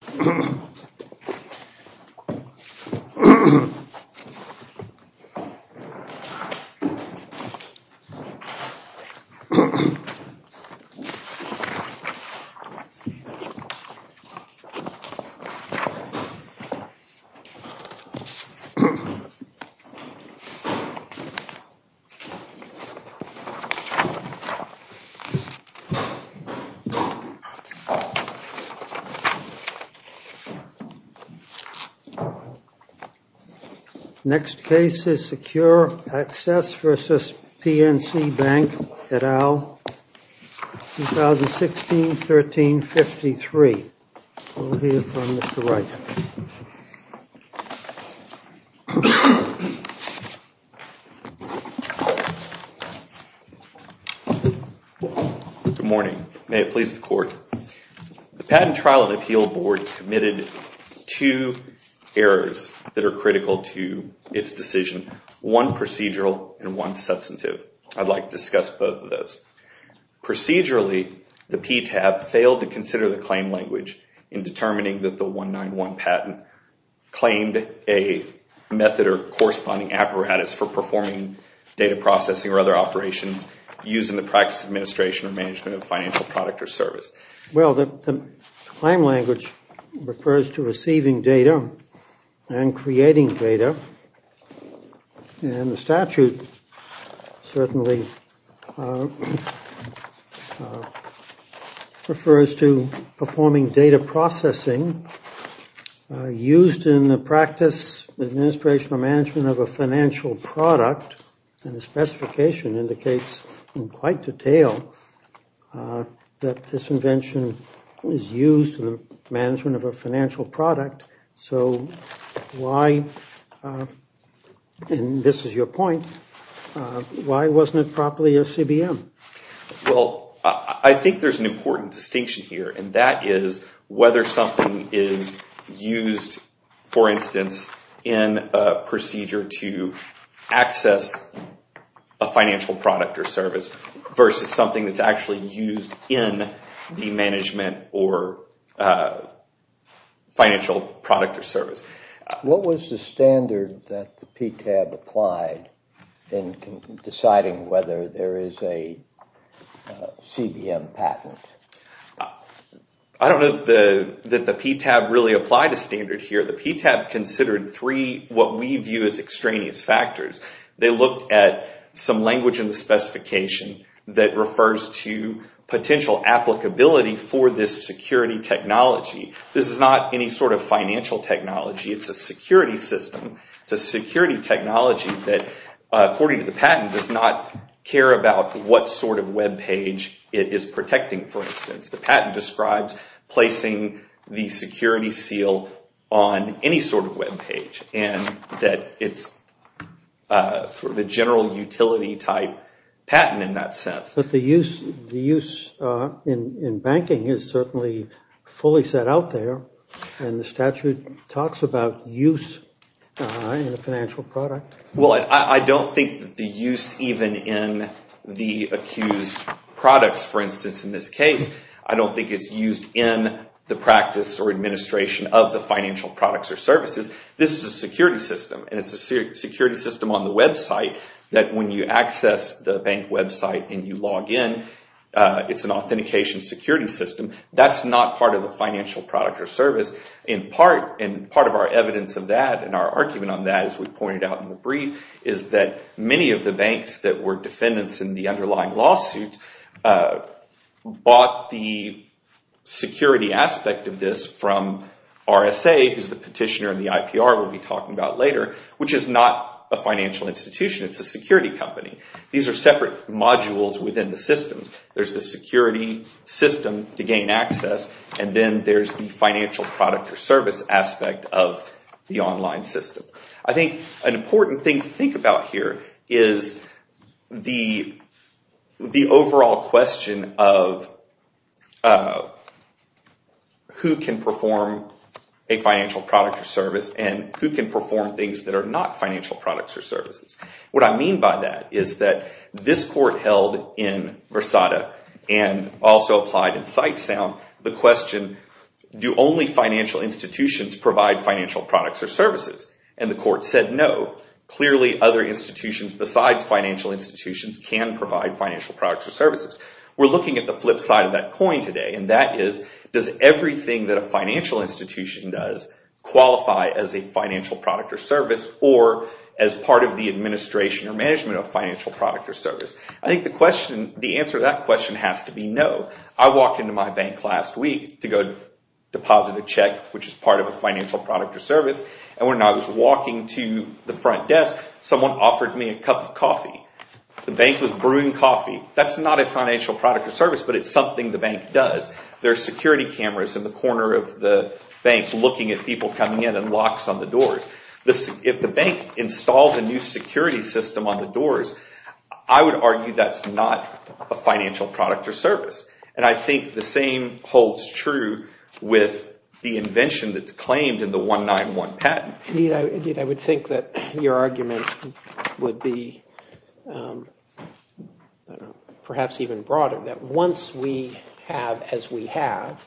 2016-13-53 Committed two errors that are critical to its decision, one procedural and one substantive. I'd like to discuss both of those. Procedurally, the PTAB failed to consider the claim language in determining that the 191 patent claimed a method or corresponding apparatus for performing data processing or other operations Well, the claim language refers to receiving data and creating data and the statute certainly refers to performing data processing used in the practice, administration or management of a financial product and the specification indicates in quite detail that this invention is used in the management of a financial product so why, and this is your point, why wasn't it properly a CBM? Well, I think there's an important distinction here and that is whether something is used, for instance, in a procedure to access a financial product or service versus something that's actually used in the management or financial product or service. What was the standard that the PTAB applied in deciding whether there is a CBM patent? I don't know that the PTAB really applied a standard here. The PTAB considered three what we view as extraneous factors. They looked at some language in the specification that refers to potential applicability for this security technology. This is not any sort of financial technology. It's a security system. It's a security technology that, according to the patent, does not care about what sort of web page it is protecting, for instance. The patent describes placing the security seal on any sort of web page and that it's the general utility type patent in that sense. But the use in banking is certainly fully set out there and the statute talks about use in a financial product. I don't think that the use even in the accused products, for instance, in this case, I don't think it's used in the practice or administration of the financial products or services. This is a security system and it's a security system on the website that when you access the bank website and you log in, it's an authentication security system. That's not part of the financial product or service. Part of our evidence of that and our argument on that, as we pointed out in the brief, is that many of the banks that were defendants in the underlying lawsuits bought the security aspect of this from RSA, who's the petitioner in the IPR we'll be talking about later, which is not a financial institution. It's a security company. These are separate modules within the systems. There's the security system to gain access and then there's the financial product or service aspect of the online system. I think an important thing to think about here is the overall question of who can perform a financial product or service and who can perform things that are not financial products or services. What I mean by that is that this court held in Versada and also applied in Sitesound the question, do only financial institutions provide financial products or services? The court said no. Clearly other institutions besides financial institutions can provide financial products or services. We're looking at the flip side of that coin today and that is does everything that a financial institution does qualify as a financial product or service or as part of the administration or management of financial product or service? I think the answer to that question has to be no. I walked into my bank last week to go deposit a check, which is part of a financial product or service and when I was walking to the front desk, someone offered me a cup of coffee. The bank was brewing coffee. That's not a financial product or service, but it's something the bank does. There are security cameras in the corner of the bank looking at people coming in and locks on the doors. If the bank installs a new security system on the doors, I would argue that's not a financial product or service and I think the same holds true with the invention that's claimed in the 191 patent. Indeed, I would think that your argument would be perhaps even broader that once we have as we have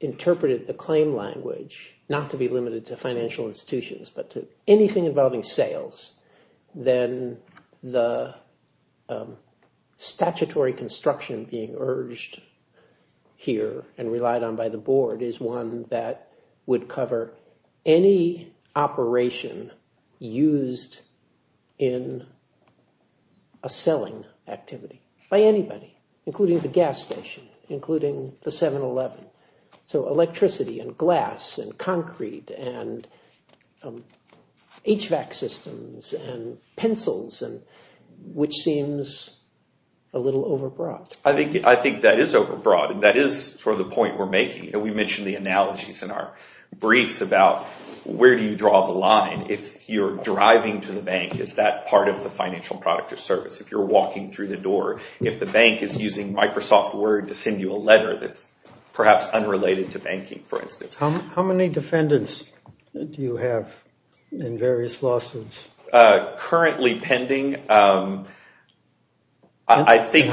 interpreted the claim language, not to be limited to financial institutions, but to anything involving sales, then the statutory construction being urged here and relied on by the board is one that would cover any operation used in a selling activity by anybody, including the gas station, including the 7-Eleven. So electricity and glass and concrete and HVAC systems and pencils, which seems a little overbroad. I think that is overbroad and that is sort of the point we're making. We mentioned the analogies in our briefs about where do you draw the line. If you're driving to the bank, is that part of the financial product or service? If you're walking through the door, if the bank is using Microsoft Word to send you a letter that's perhaps unrelated to banking, for instance. How many defendants do you have in various lawsuits? Currently pending, I think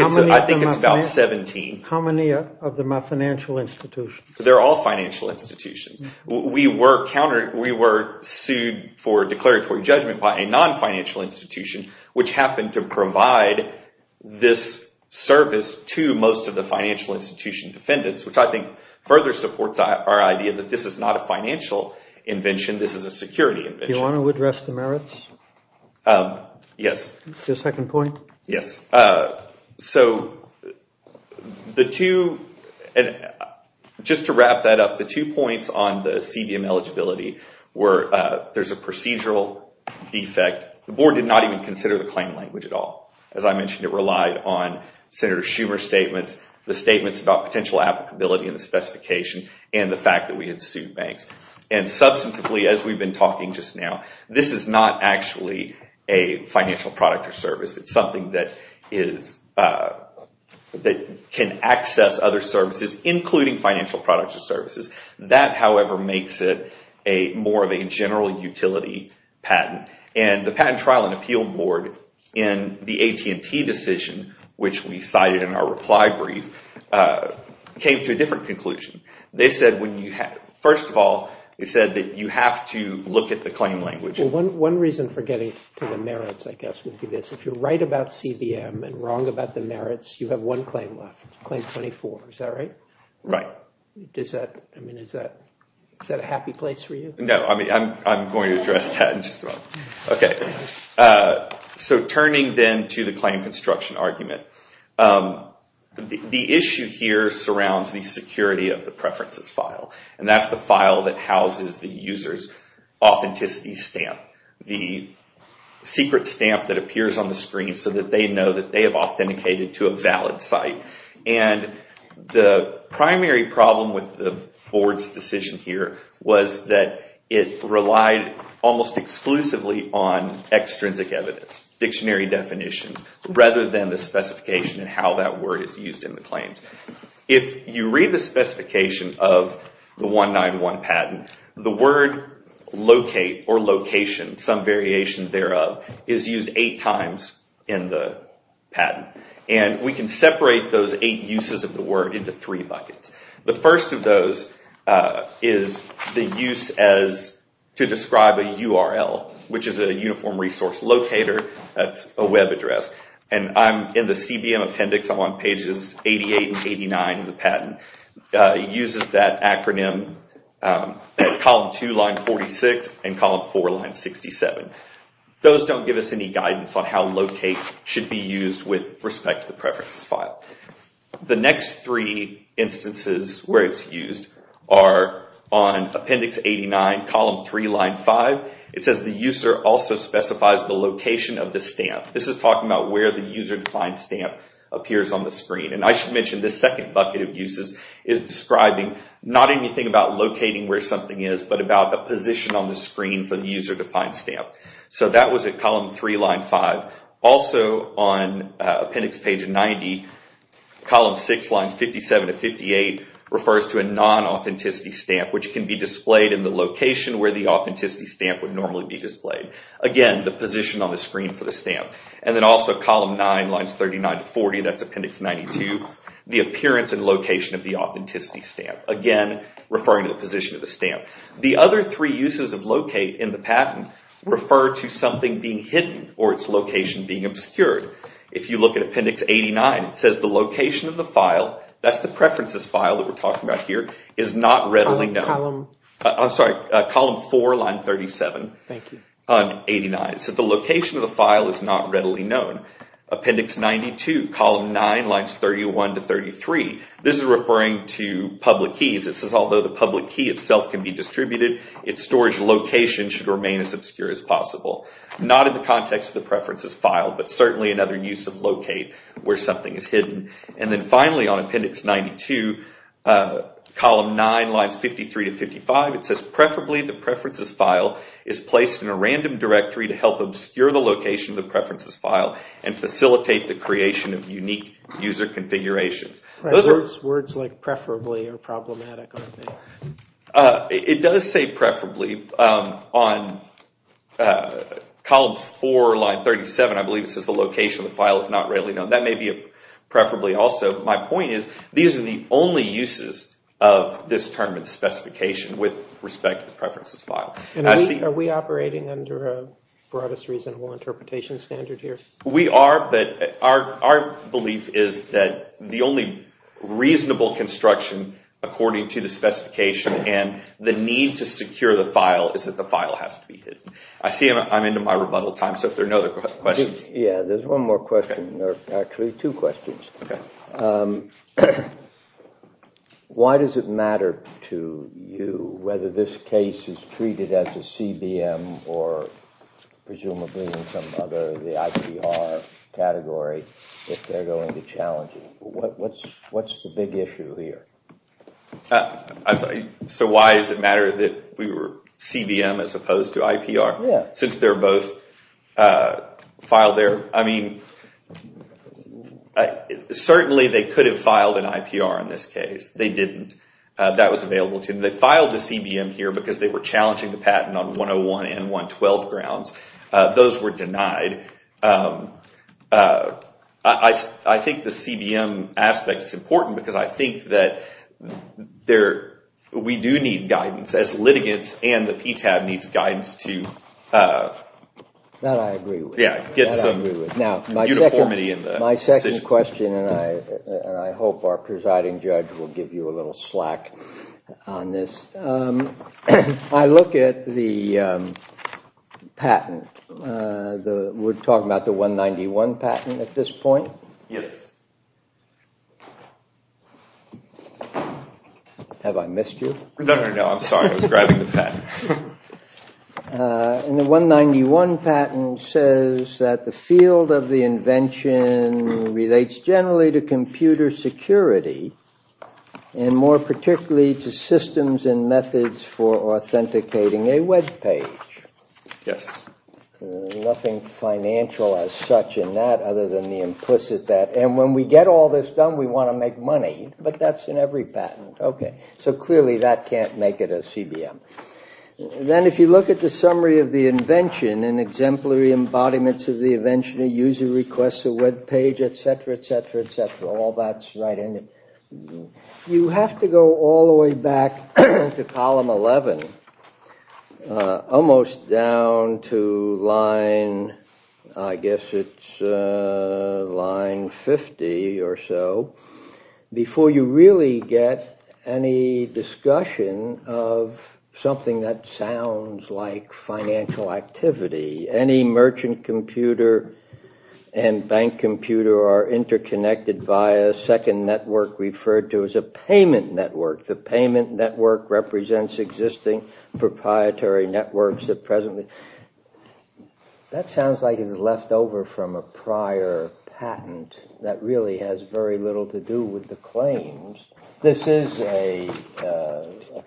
it's about 17. How many of them are financial institutions? They're all financial institutions. We were sued for declaratory judgment by a non-financial institution, which happened to provide this service to most of the financial institution defendants, which I think further supports our idea that this is not a financial invention. This is a security invention. Do you want to address the merits? Yes. The second point? Yes. So just to wrap that up, the two points on the CBM eligibility were there's a procedural defect. The board did not even consider the claim language at all. As I mentioned, it relied on Senator Schumer's statements, the statements about potential applicability and the specification, and the fact that we had sued banks. And substantively, as we've been talking just now, this is not actually a financial product or service. It's something that can access other services, including financial products or services. That, however, makes it more of a general utility patent. And the Patent Trial and Appeal Board, in the AT&T decision, which we cited in our reply brief, came to a different conclusion. First of all, they said that you have to look at the claim language. One reason for getting to the merits, I guess, would be this. If you're right about CBM and wrong about the merits, you have one claim left, Claim 24. Is that right? Right. Is that a happy place for you? No. I'm going to address that in just a moment. Okay. So turning then to the claim construction argument, the issue here surrounds the security of the preferences file. And that's the file that houses the user's authenticity stamp, the secret stamp that appears on the screen so that they know that they have authenticated to a valid site. And the primary problem with the board's decision here was that it relied almost exclusively on extrinsic evidence, dictionary definitions, rather than the specification and how that word is used in the claims. If you read the specification of the 191 patent, the word locate or location, some variation thereof, is used eight times in the patent. And we can separate those eight uses of the word into three buckets. The first of those is the use as to describe a URL, which is a uniform resource locator. That's a web address. And I'm in the CBM appendix. I'm on pages 88 and 89 of the patent. It uses that acronym column 2, line 46, and column 4, line 67. Those don't give us any guidance on how locate should be used with respect to the preferences file. The next three instances where it's used are on appendix 89, column 3, line 5. It says the user also specifies the location of the stamp. This is talking about where the user-defined stamp appears on the screen. And I should mention this second bucket of uses is describing not anything about locating where something is, but about the position on the screen for the user-defined stamp. So that was at column 3, line 5. Also on appendix page 90, column 6, lines 57 to 58, refers to a non-authenticity stamp, which can be displayed in the location where the authenticity stamp would normally be displayed. Again, the position on the screen for the stamp. And then also column 9, lines 39 to 40, that's appendix 92, the appearance and location of the authenticity stamp. Again, referring to the position of the stamp. The other three uses of locate in the patent refer to something being hidden or its location being obscured. If you look at appendix 89, it says the location of the file, that's the preferences file that we're talking about here, is not readily known. I'm sorry, column 4, line 37, on 89. So the location of the file is not readily known. Appendix 92, column 9, lines 31 to 33, this is referring to public keys. It says although the public key itself can be distributed, its storage location should remain as obscure as possible. Not in the context of the preferences file, but certainly in other use of locate where something is hidden. And then finally on appendix 92, column 9, lines 53 to 55, it says preferably the preferences file is placed in a random directory to help obscure the location of the preferences file and facilitate the creation of unique user configurations. Words like preferably are problematic, aren't they? It does say preferably on column 4, line 37, I believe it says the location of the file is not readily known. That may be a preferably also. My point is these are the only uses of this term in the specification with respect to the preferences file. Are we operating under a broadest reasonable interpretation standard here? We are, but our belief is that the only reasonable construction according to the specification and the need to secure the file is that the file has to be hidden. I see I'm into my rebuttal time, so if there are no other questions. Yeah, there's one more question, or actually two questions. Why does it matter to you whether this case is treated as a CBM or presumably in some other of the IPR category if they're going to challenge it? What's the big issue here? So why does it matter that we were CBM as opposed to IPR? Yeah. Since they're both filed there. I mean, certainly they could have filed an IPR in this case. They didn't. That was available to them. They filed a CBM here because they were challenging the patent on 101 and 112 grounds. Those were denied. I think the CBM aspect is important because I think that we do need guidance as litigants and the PTAB needs guidance to get some uniformity in the decisions. I have a question, and I hope our presiding judge will give you a little slack on this. I look at the patent. We're talking about the 191 patent at this point? Yes. Have I missed you? No, no, no. I'm sorry. I was grabbing the patent. And the 191 patent says that the field of the invention relates generally to computer security and more particularly to systems and methods for authenticating a web page. Yes. Nothing financial as such in that other than the implicit that, and when we get all this done, we want to make money. But that's in every patent. Okay. So clearly that can't make it a CBM. Then if you look at the summary of the invention and exemplary embodiments of the invention, a user requests a web page, et cetera, et cetera, et cetera, all that's right in it. You have to go all the way back to column 11, almost down to line, I guess it's line 50 or so, before you really get any discussion of something that sounds like financial activity. Any merchant computer and bank computer are interconnected via a second network referred to as a payment network. The payment network represents existing proprietary networks That sounds like it's left over from a prior patent that really has very little to do with the claims. This is a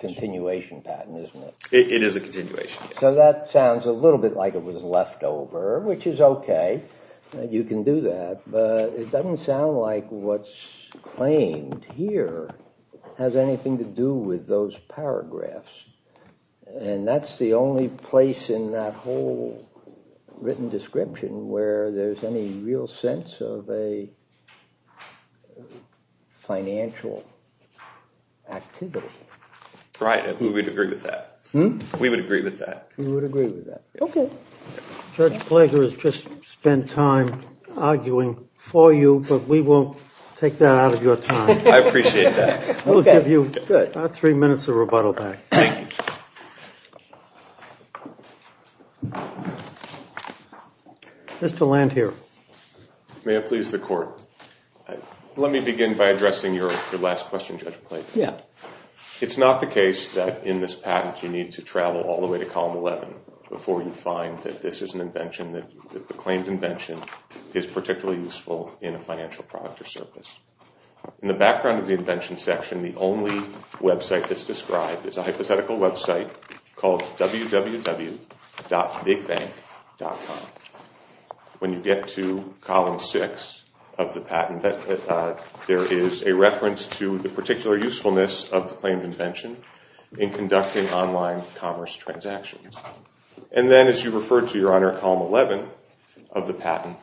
continuation patent, isn't it? It is a continuation, yes. So that sounds a little bit like it was left over, which is okay. You can do that. But it doesn't sound like what's claimed here has anything to do with those paragraphs. And that's the only place in that whole written description where there's any real sense of a financial activity. Right, we would agree with that. We would agree with that. We would agree with that. Okay. Judge Plager has just spent time arguing for you, but we won't take that out of your time. I appreciate that. We'll give you about three minutes of rebuttal back. Mr. Landhier. May it please the Court. Let me begin by addressing your last question, Judge Plager. It's not the case that in this patent you need to travel all the way to column 11 before you find that this is an invention, in a financial product or service. In the background of the invention section, the only website that's described is a hypothetical website called www.bigbank.com. When you get to column 6 of the patent, there is a reference to the particular usefulness of the claimed invention in conducting online commerce transactions. And then, as you referred to, Your Honor, column 11 of the patent,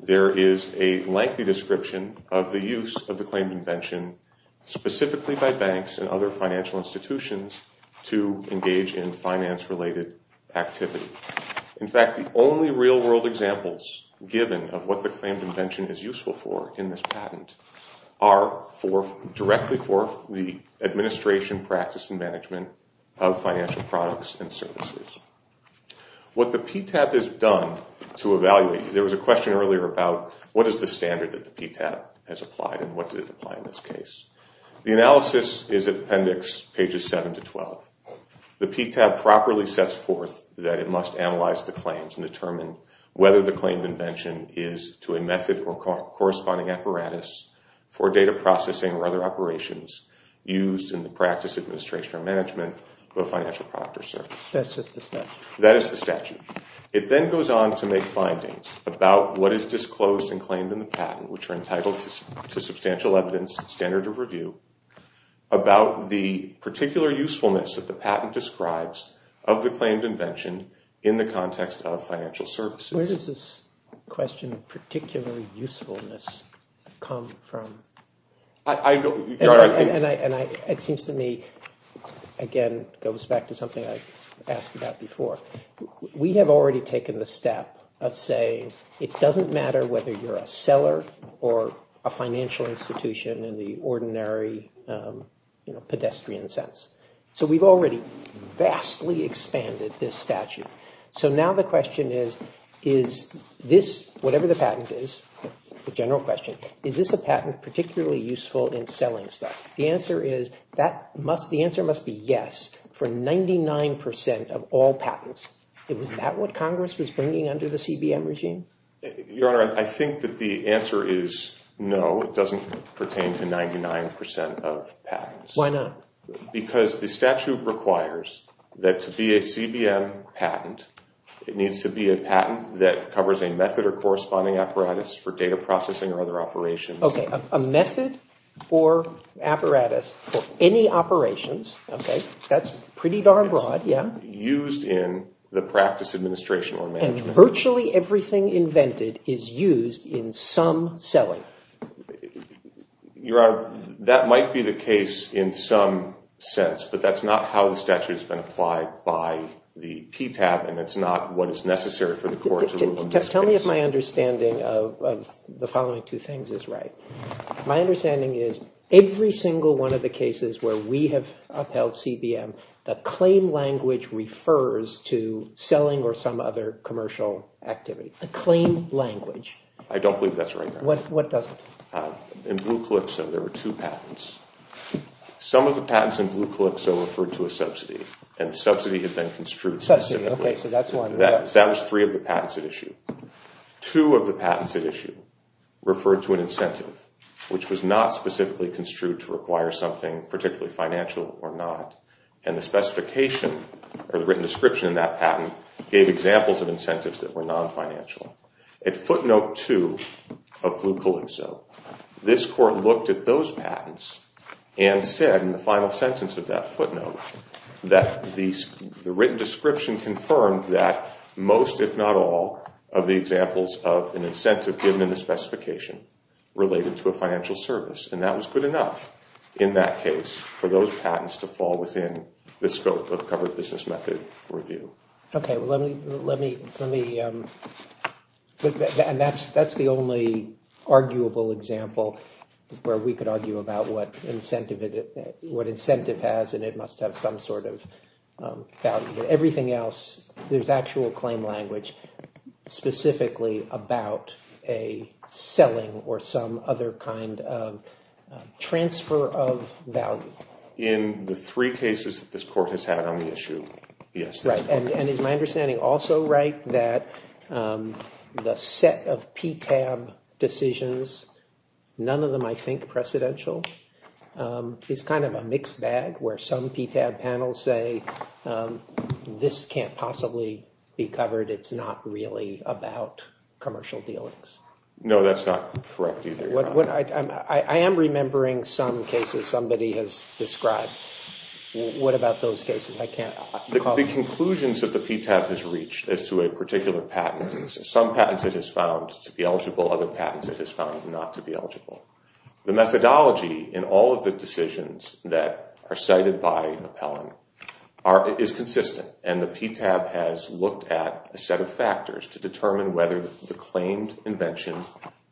there is a lengthy description of the use of the claimed invention, specifically by banks and other financial institutions, to engage in finance-related activity. In fact, the only real-world examples given of what the claimed invention is useful for in this patent are directly for the administration, practice, and management of financial products and services. What the PTAB has done to evaluate, there was a question earlier about what is the standard that the PTAB has applied and what did it apply in this case. The analysis is at appendix pages 7 to 12. The PTAB properly sets forth that it must analyze the claims and determine whether the claimed invention is to a method or corresponding apparatus for data processing or other operations used in the practice, administration, or management of a financial product or service. That's just the statute? That is the statute. It then goes on to make findings about what is disclosed and claimed in the patent, which are entitled to substantial evidence, standard of review, about the particular usefulness that the patent describes of the claimed invention in the context of financial services. Where does this question of particular usefulness come from? It seems to me, again, it goes back to something I asked about before. We have already taken the step of saying it doesn't matter whether you're a seller or a financial institution in the ordinary pedestrian sense. So we've already vastly expanded this statute. So now the question is, whatever the patent is, the general question, is this a patent particularly useful in selling stuff? The answer must be yes for 99% of all patents. Is that what Congress was bringing under the CBM regime? Your Honor, I think that the answer is no. It doesn't pertain to 99% of patents. Why not? Because the statute requires that to be a CBM patent, it needs to be a patent that covers a method or corresponding apparatus for data processing or other operations. Okay, a method or apparatus for any operations, okay, that's pretty darn broad, yeah. Used in the practice administration or management. And virtually everything invented is used in some selling. Your Honor, that might be the case in some sense, but that's not how the statute has been applied by the PTAB, and it's not what is necessary for the court to rule on this case. Tell me if my understanding of the following two things is right. My understanding is every single one of the cases where we have upheld CBM, the claim language refers to selling or some other commercial activity. The claim language. I don't believe that's right, Your Honor. What doesn't? In Blue Calypso, there were two patents. Some of the patents in Blue Calypso referred to a subsidy, and the subsidy had been construed specifically. Okay, so that's one. That was three of the patents at issue. Two of the patents at issue referred to an incentive, which was not specifically construed to require something particularly financial or not. And the specification or the written description in that patent gave examples of incentives that were non-financial. At footnote two of Blue Calypso, this court looked at those patents and said in the final sentence of that footnote that the written description confirmed that most, if not all, of the examples of an incentive given in the specification related to a financial service. And that was good enough in that case for those patents to fall within the scope of covered business method review. Okay, well, let me – and that's the only arguable example where we could argue about what incentive has and it must have some sort of value. Everything else, there's actual claim language specifically about a selling or some other kind of transfer of value. In the three cases that this court has had on the issue, yes. Right, and is my understanding also right that the set of PTAB decisions, none of them I think precedential, is kind of a mixed bag where some PTAB panels say this can't possibly be covered, it's not really about commercial dealings? No, that's not correct either. I am remembering some cases somebody has described. What about those cases? The conclusions that the PTAB has reached as to a particular patent, some patents it has found to be eligible, other patents it has found not to be eligible. The methodology in all of the decisions that are cited by appellant is consistent, and the PTAB has looked at a set of factors to determine whether the claimed invention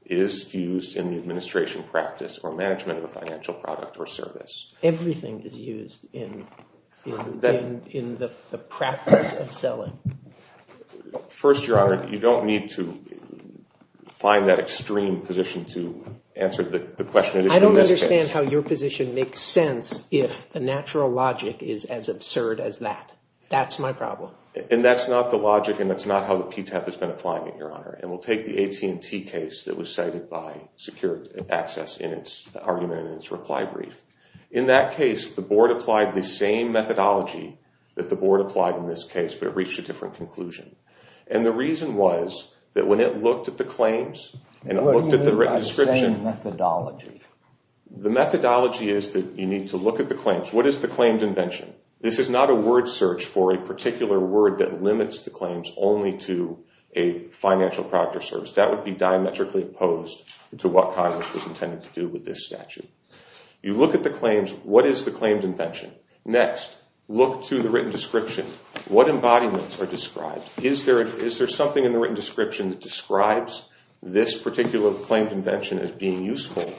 is used in the administration practice or management of a financial product or service. Everything is used in the practice of selling. First, Your Honor, you don't need to find that extreme position to answer the question. I don't understand how your position makes sense if the natural logic is as absurd as that. That's my problem. And that's not the logic and that's not how the PTAB has been applying it, Your Honor. And we'll take the AT&T case that was cited by secured access in its argument and its reply brief. In that case, the board applied the same methodology that the board applied in this case, but it reached a different conclusion. And the reason was that when it looked at the claims and it looked at the written description… What do you mean by the same methodology? The methodology is that you need to look at the claims. What is the claimed invention? This is not a word search for a particular word that limits the claims only to a financial product or service. That would be diametrically opposed to what Congress was intended to do with this statute. You look at the claims. What is the claimed invention? Next, look to the written description. What embodiments are described? Is there something in the written description that describes this particular claimed invention as being useful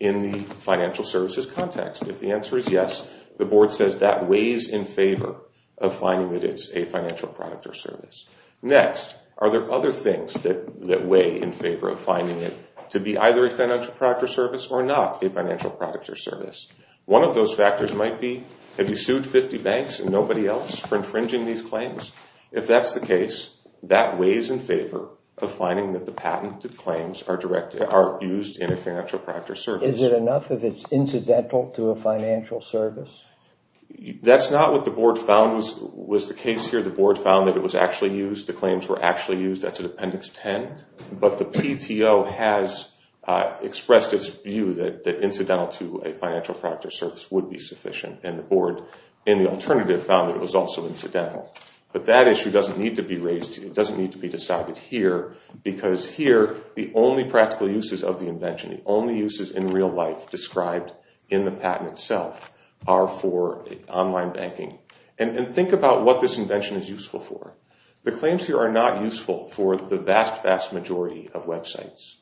in the financial services context? If the answer is yes, the board says that weighs in favor of finding that it's a financial product or service. Next, are there other things that weigh in favor of finding it to be either a financial product or service or not a financial product or service? One of those factors might be, have you sued 50 banks and nobody else for infringing these claims? If that's the case, that weighs in favor of finding that the patented claims are used in a financial product or service. Is it enough if it's incidental to a financial service? That's not what the board found was the case here. The board found that it was actually used. The claims were actually used. That's in Appendix 10. But the PTO has expressed its view that incidental to a financial product or service would be sufficient. And the board in the alternative found that it was also incidental. But that issue doesn't need to be raised. It doesn't need to be decided here because here the only practical uses of the invention, the only uses in real life described in the patent itself are for online banking. And think about what this invention is useful for. The claims here are not useful for the vast, vast majority of websites.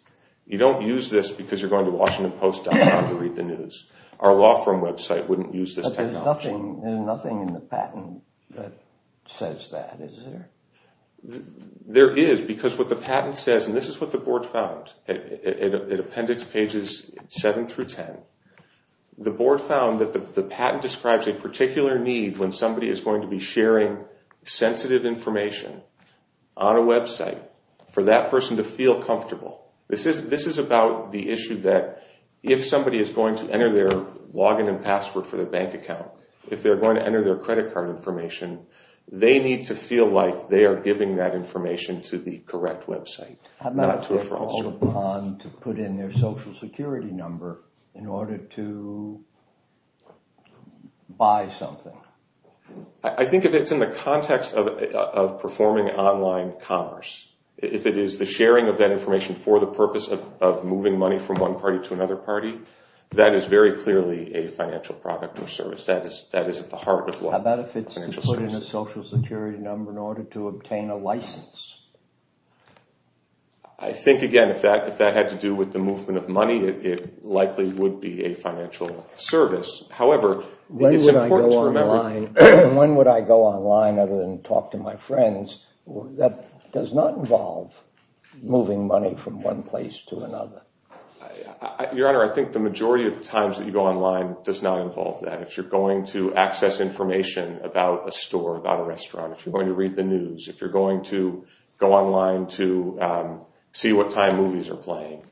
You don't use this because you're going to WashingtonPost.com to read the news. Our law firm website wouldn't use this technology. But there's nothing in the patent that says that, is there? There is because what the patent says, and this is what the board found. In Appendix pages 7 through 10, the board found that the patent describes a particular need when somebody is going to be sharing sensitive information on a website for that person to feel comfortable. This is about the issue that if somebody is going to enter their login and password for their bank account, if they're going to enter their credit card information, they need to feel like they are giving that information to the correct website, not to a fraudster. ...to put in their social security number in order to buy something. I think if it's in the context of performing online commerce, if it is the sharing of that information for the purpose of moving money from one party to another party, that is very clearly a financial product or service. That is at the heart of what financial services is. How about if it's to put in a social security number in order to obtain a license? I think, again, if that had to do with the movement of money, it likely would be a financial service. However, it's important to remember... When would I go online other than talk to my friends? That does not involve moving money from one place to another. Your Honor, I think the majority of times that you go online does not involve that. If you're going to access information about a store, about a restaurant, if you're going to read the news, if you're going to go online to see what time movies are playing,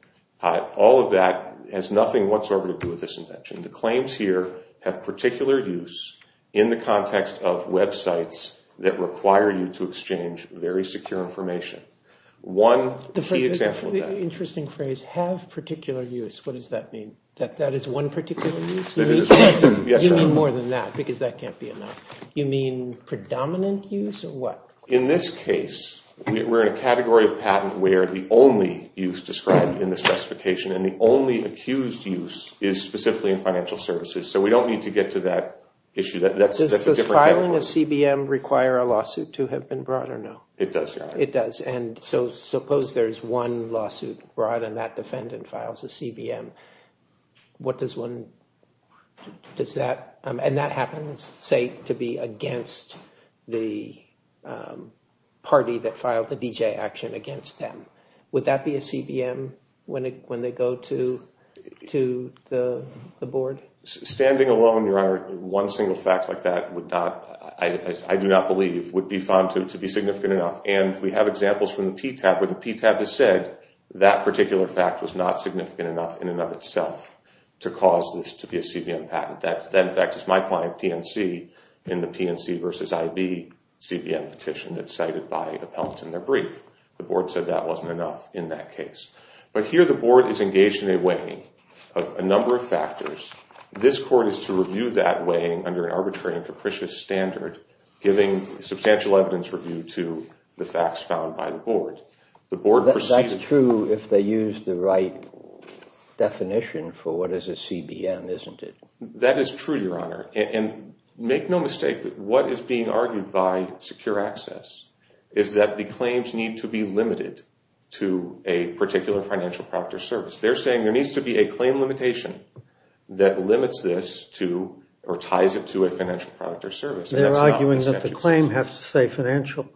all of that has nothing whatsoever to do with this invention. The claims here have particular use in the context of websites that require you to exchange very secure information. One key example of that... The interesting phrase, have particular use, what does that mean? That that is one particular use? Yes, Your Honor. You mean more than that, because that can't be enough. You mean predominant use or what? In this case, we're in a category of patent where the only use described in the specification and the only accused use is specifically in financial services. So we don't need to get to that issue. Does filing a CBM require a lawsuit to have been brought or no? It does, Your Honor. It does, and so suppose there's one lawsuit brought and that defendant files a CBM. And that happens, say, to be against the party that filed the DJ action against them. Would that be a CBM when they go to the board? Standing alone, Your Honor, one single fact like that, I do not believe, would be found to be significant enough. And we have examples from the PTAB where the PTAB has said that particular fact was not significant enough in and of itself to cause this to be a CBM patent. That, in fact, is my client, PNC, in the PNC v. IB CBM petition that's cited by Appellant in their brief. The board said that wasn't enough in that case. But here the board is engaged in a weighing of a number of factors. This court is to review that weighing under an arbitrary and capricious standard, giving substantial evidence review to the facts found by the board. That's true if they use the right definition for what is a CBM, isn't it? That is true, Your Honor. And make no mistake, what is being argued by Secure Access is that the claims need to be limited to a particular financial product or service. They're saying there needs to be a claim limitation that limits this to or ties it to a financial product or service. They're arguing that the claim has to say financial.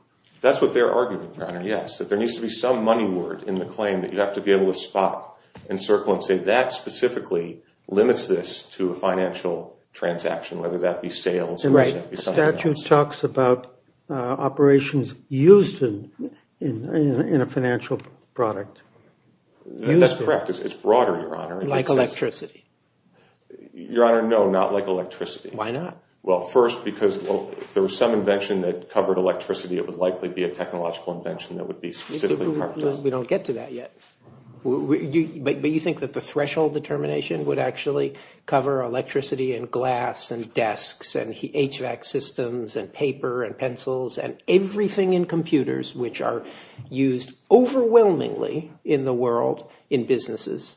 That's what they're arguing, Your Honor, yes, that there needs to be some money word in the claim that you have to be able to spot, encircle, and say that specifically limits this to a financial transaction, whether that be sales. Right. The statute talks about operations used in a financial product. That's correct. It's broader, Your Honor. Like electricity. Your Honor, no, not like electricity. Why not? Well, first, because if there was some invention that covered electricity, it would likely be a technological invention that would be specifically part of it. We don't get to that yet. But you think that the threshold determination would actually cover electricity and glass and desks and HVAC systems and paper and pencils and everything in computers which are used overwhelmingly in the world in businesses?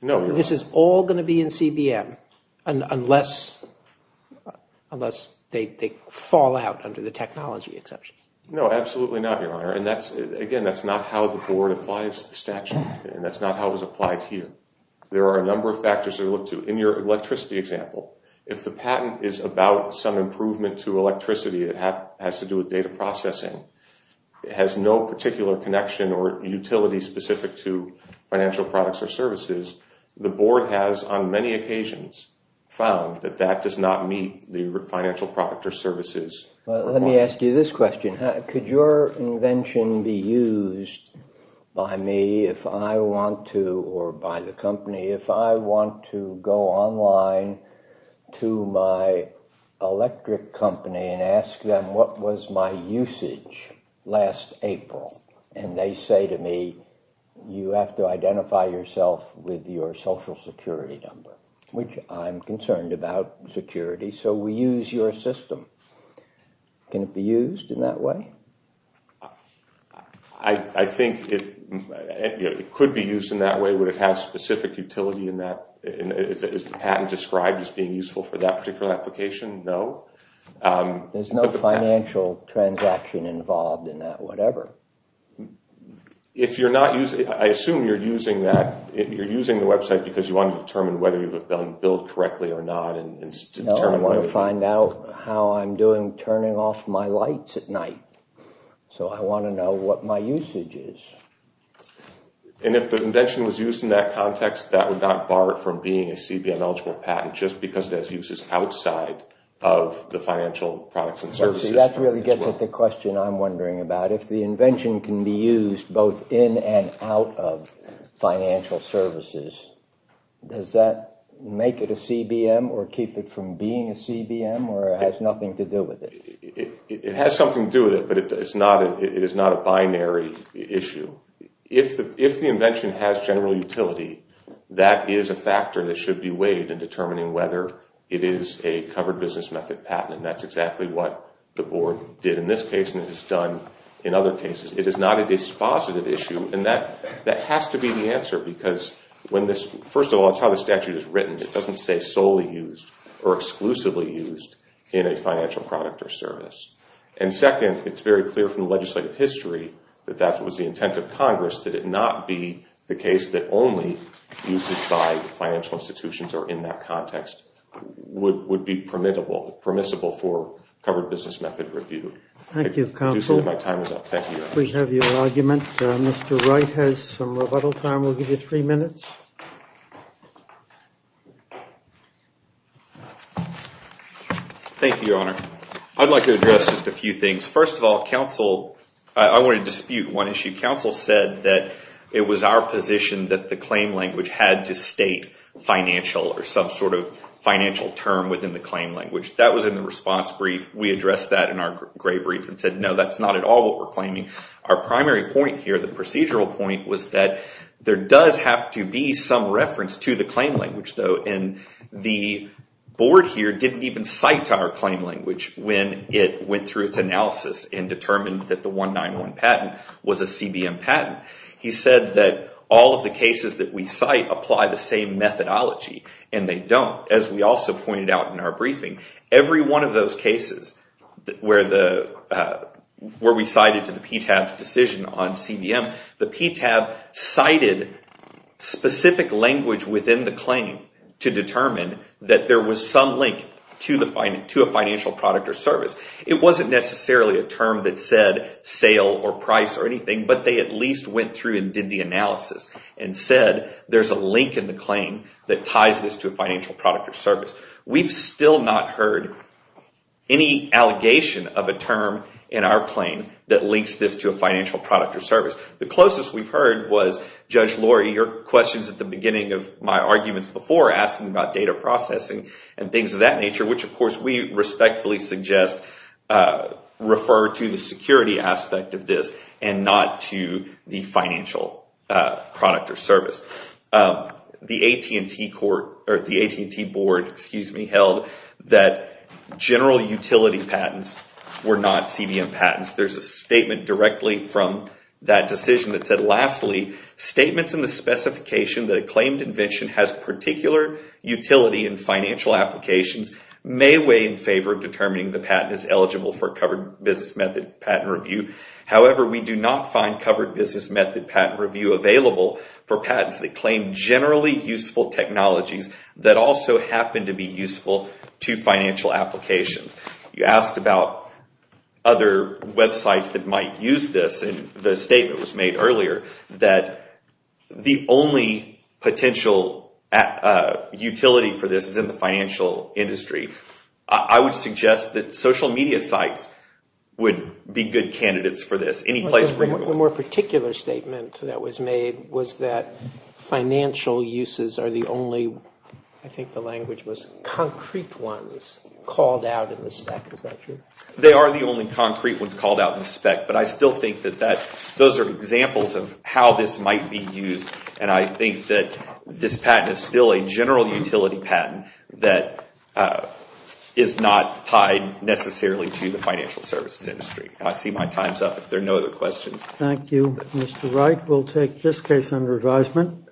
No, Your Honor. This is all going to be in CBM unless they fall out under the technology exception. No, absolutely not, Your Honor. And, again, that's not how the Board applies the statute, and that's not how it was applied here. There are a number of factors to look to. In your electricity example, if the patent is about some improvement to electricity that has to do with data processing, has no particular connection or utility specific to financial products or services, the Board has on many occasions found that that does not meet the financial product or services requirement. Well, let me ask you this question. Could your invention be used by me if I want to, or by the company, if I want to go online to my electric company and ask them what was my usage last April? And they say to me, you have to identify yourself with your social security number, which I'm concerned about security, so we use your system. Can it be used in that way? I think it could be used in that way. Would it have specific utility in that? Is the patent described as being useful for that particular application? No. There's no financial transaction involved in that, whatever. If you're not using it, I assume you're using the website because you want to determine whether you've built correctly or not. No, I want to find out how I'm turning off my lights at night. So I want to know what my usage is. And if the invention was used in that context, that would not bar it from being a CBM eligible patent, just because it has uses outside of the financial products and services? Well, see, that really gets at the question I'm wondering about. If the invention can be used both in and out of financial services, does that make it a CBM or keep it from being a CBM, or it has nothing to do with it? It has something to do with it, but it is not a binary issue. If the invention has general utility, that is a factor that should be weighed in determining whether it is a covered business method patent, and that's exactly what the board did in this case and has done in other cases. It is not a dispositive issue, and that has to be the answer. It doesn't say solely used or exclusively used in a financial product or service. And second, it's very clear from the legislative history that that was the intent of Congress, that it not be the case that only uses by financial institutions or in that context would be permissible for covered business method review. Thank you, counsel. We have your argument. Mr. Wright has some rebuttal time. We'll give you three minutes. Thank you, Your Honor. I'd like to address just a few things. First of all, counsel, I want to dispute one issue. Counsel said that it was our position that the claim language had to state financial or some sort of financial term within the claim language. That was in the response brief. We addressed that in our gray brief and said, no, that's not at all what we're claiming. Our primary point here, the procedural point, was that there does have to be some reference to the claim language, though, and the board here didn't even cite our claim language when it went through its analysis and determined that the 191 patent was a CBM patent. He said that all of the cases that we cite apply the same methodology, and they don't, as we also pointed out in our briefing. Every one of those cases where we cited to the PTAB's decision on CBM, the PTAB cited specific language within the claim to determine that there was some link to a financial product or service. It wasn't necessarily a term that said sale or price or anything, but they at least went through and did the analysis and said there's a link in the claim that ties this to a financial product or service. We've still not heard any allegation of a term in our claim that links this to a financial product or service. The closest we've heard was, Judge Laurie, your questions at the beginning of my arguments before asking about data processing and things of that nature, which, of course, we respectfully suggest refer to the security aspect of this and not to the financial product or service. The AT&T Board held that general utility patents were not CBM patents. There's a statement directly from that decision that said, lastly, statements in the specification that a claimed invention has particular utility in financial applications may weigh in favor of determining the patent is eligible for a covered business method patent review. However, we do not find covered business method patent review available for patents that claim generally useful technologies that also happen to be useful to financial applications. You asked about other websites that might use this, and the statement was made earlier that the only potential utility for this is in the financial industry. I would suggest that social media sites would be good candidates for this. The more particular statement that was made was that financial uses are the only, I think the language was concrete ones, called out in the spec. Is that true? They are the only concrete ones called out in the spec, but I still think that those are examples of how this might be used, and I think that this patent is still a general utility patent that is not tied necessarily to the financial services industry. I see my time's up. If there are no other questions. Thank you, Mr. Wright. We'll take this case under advisement.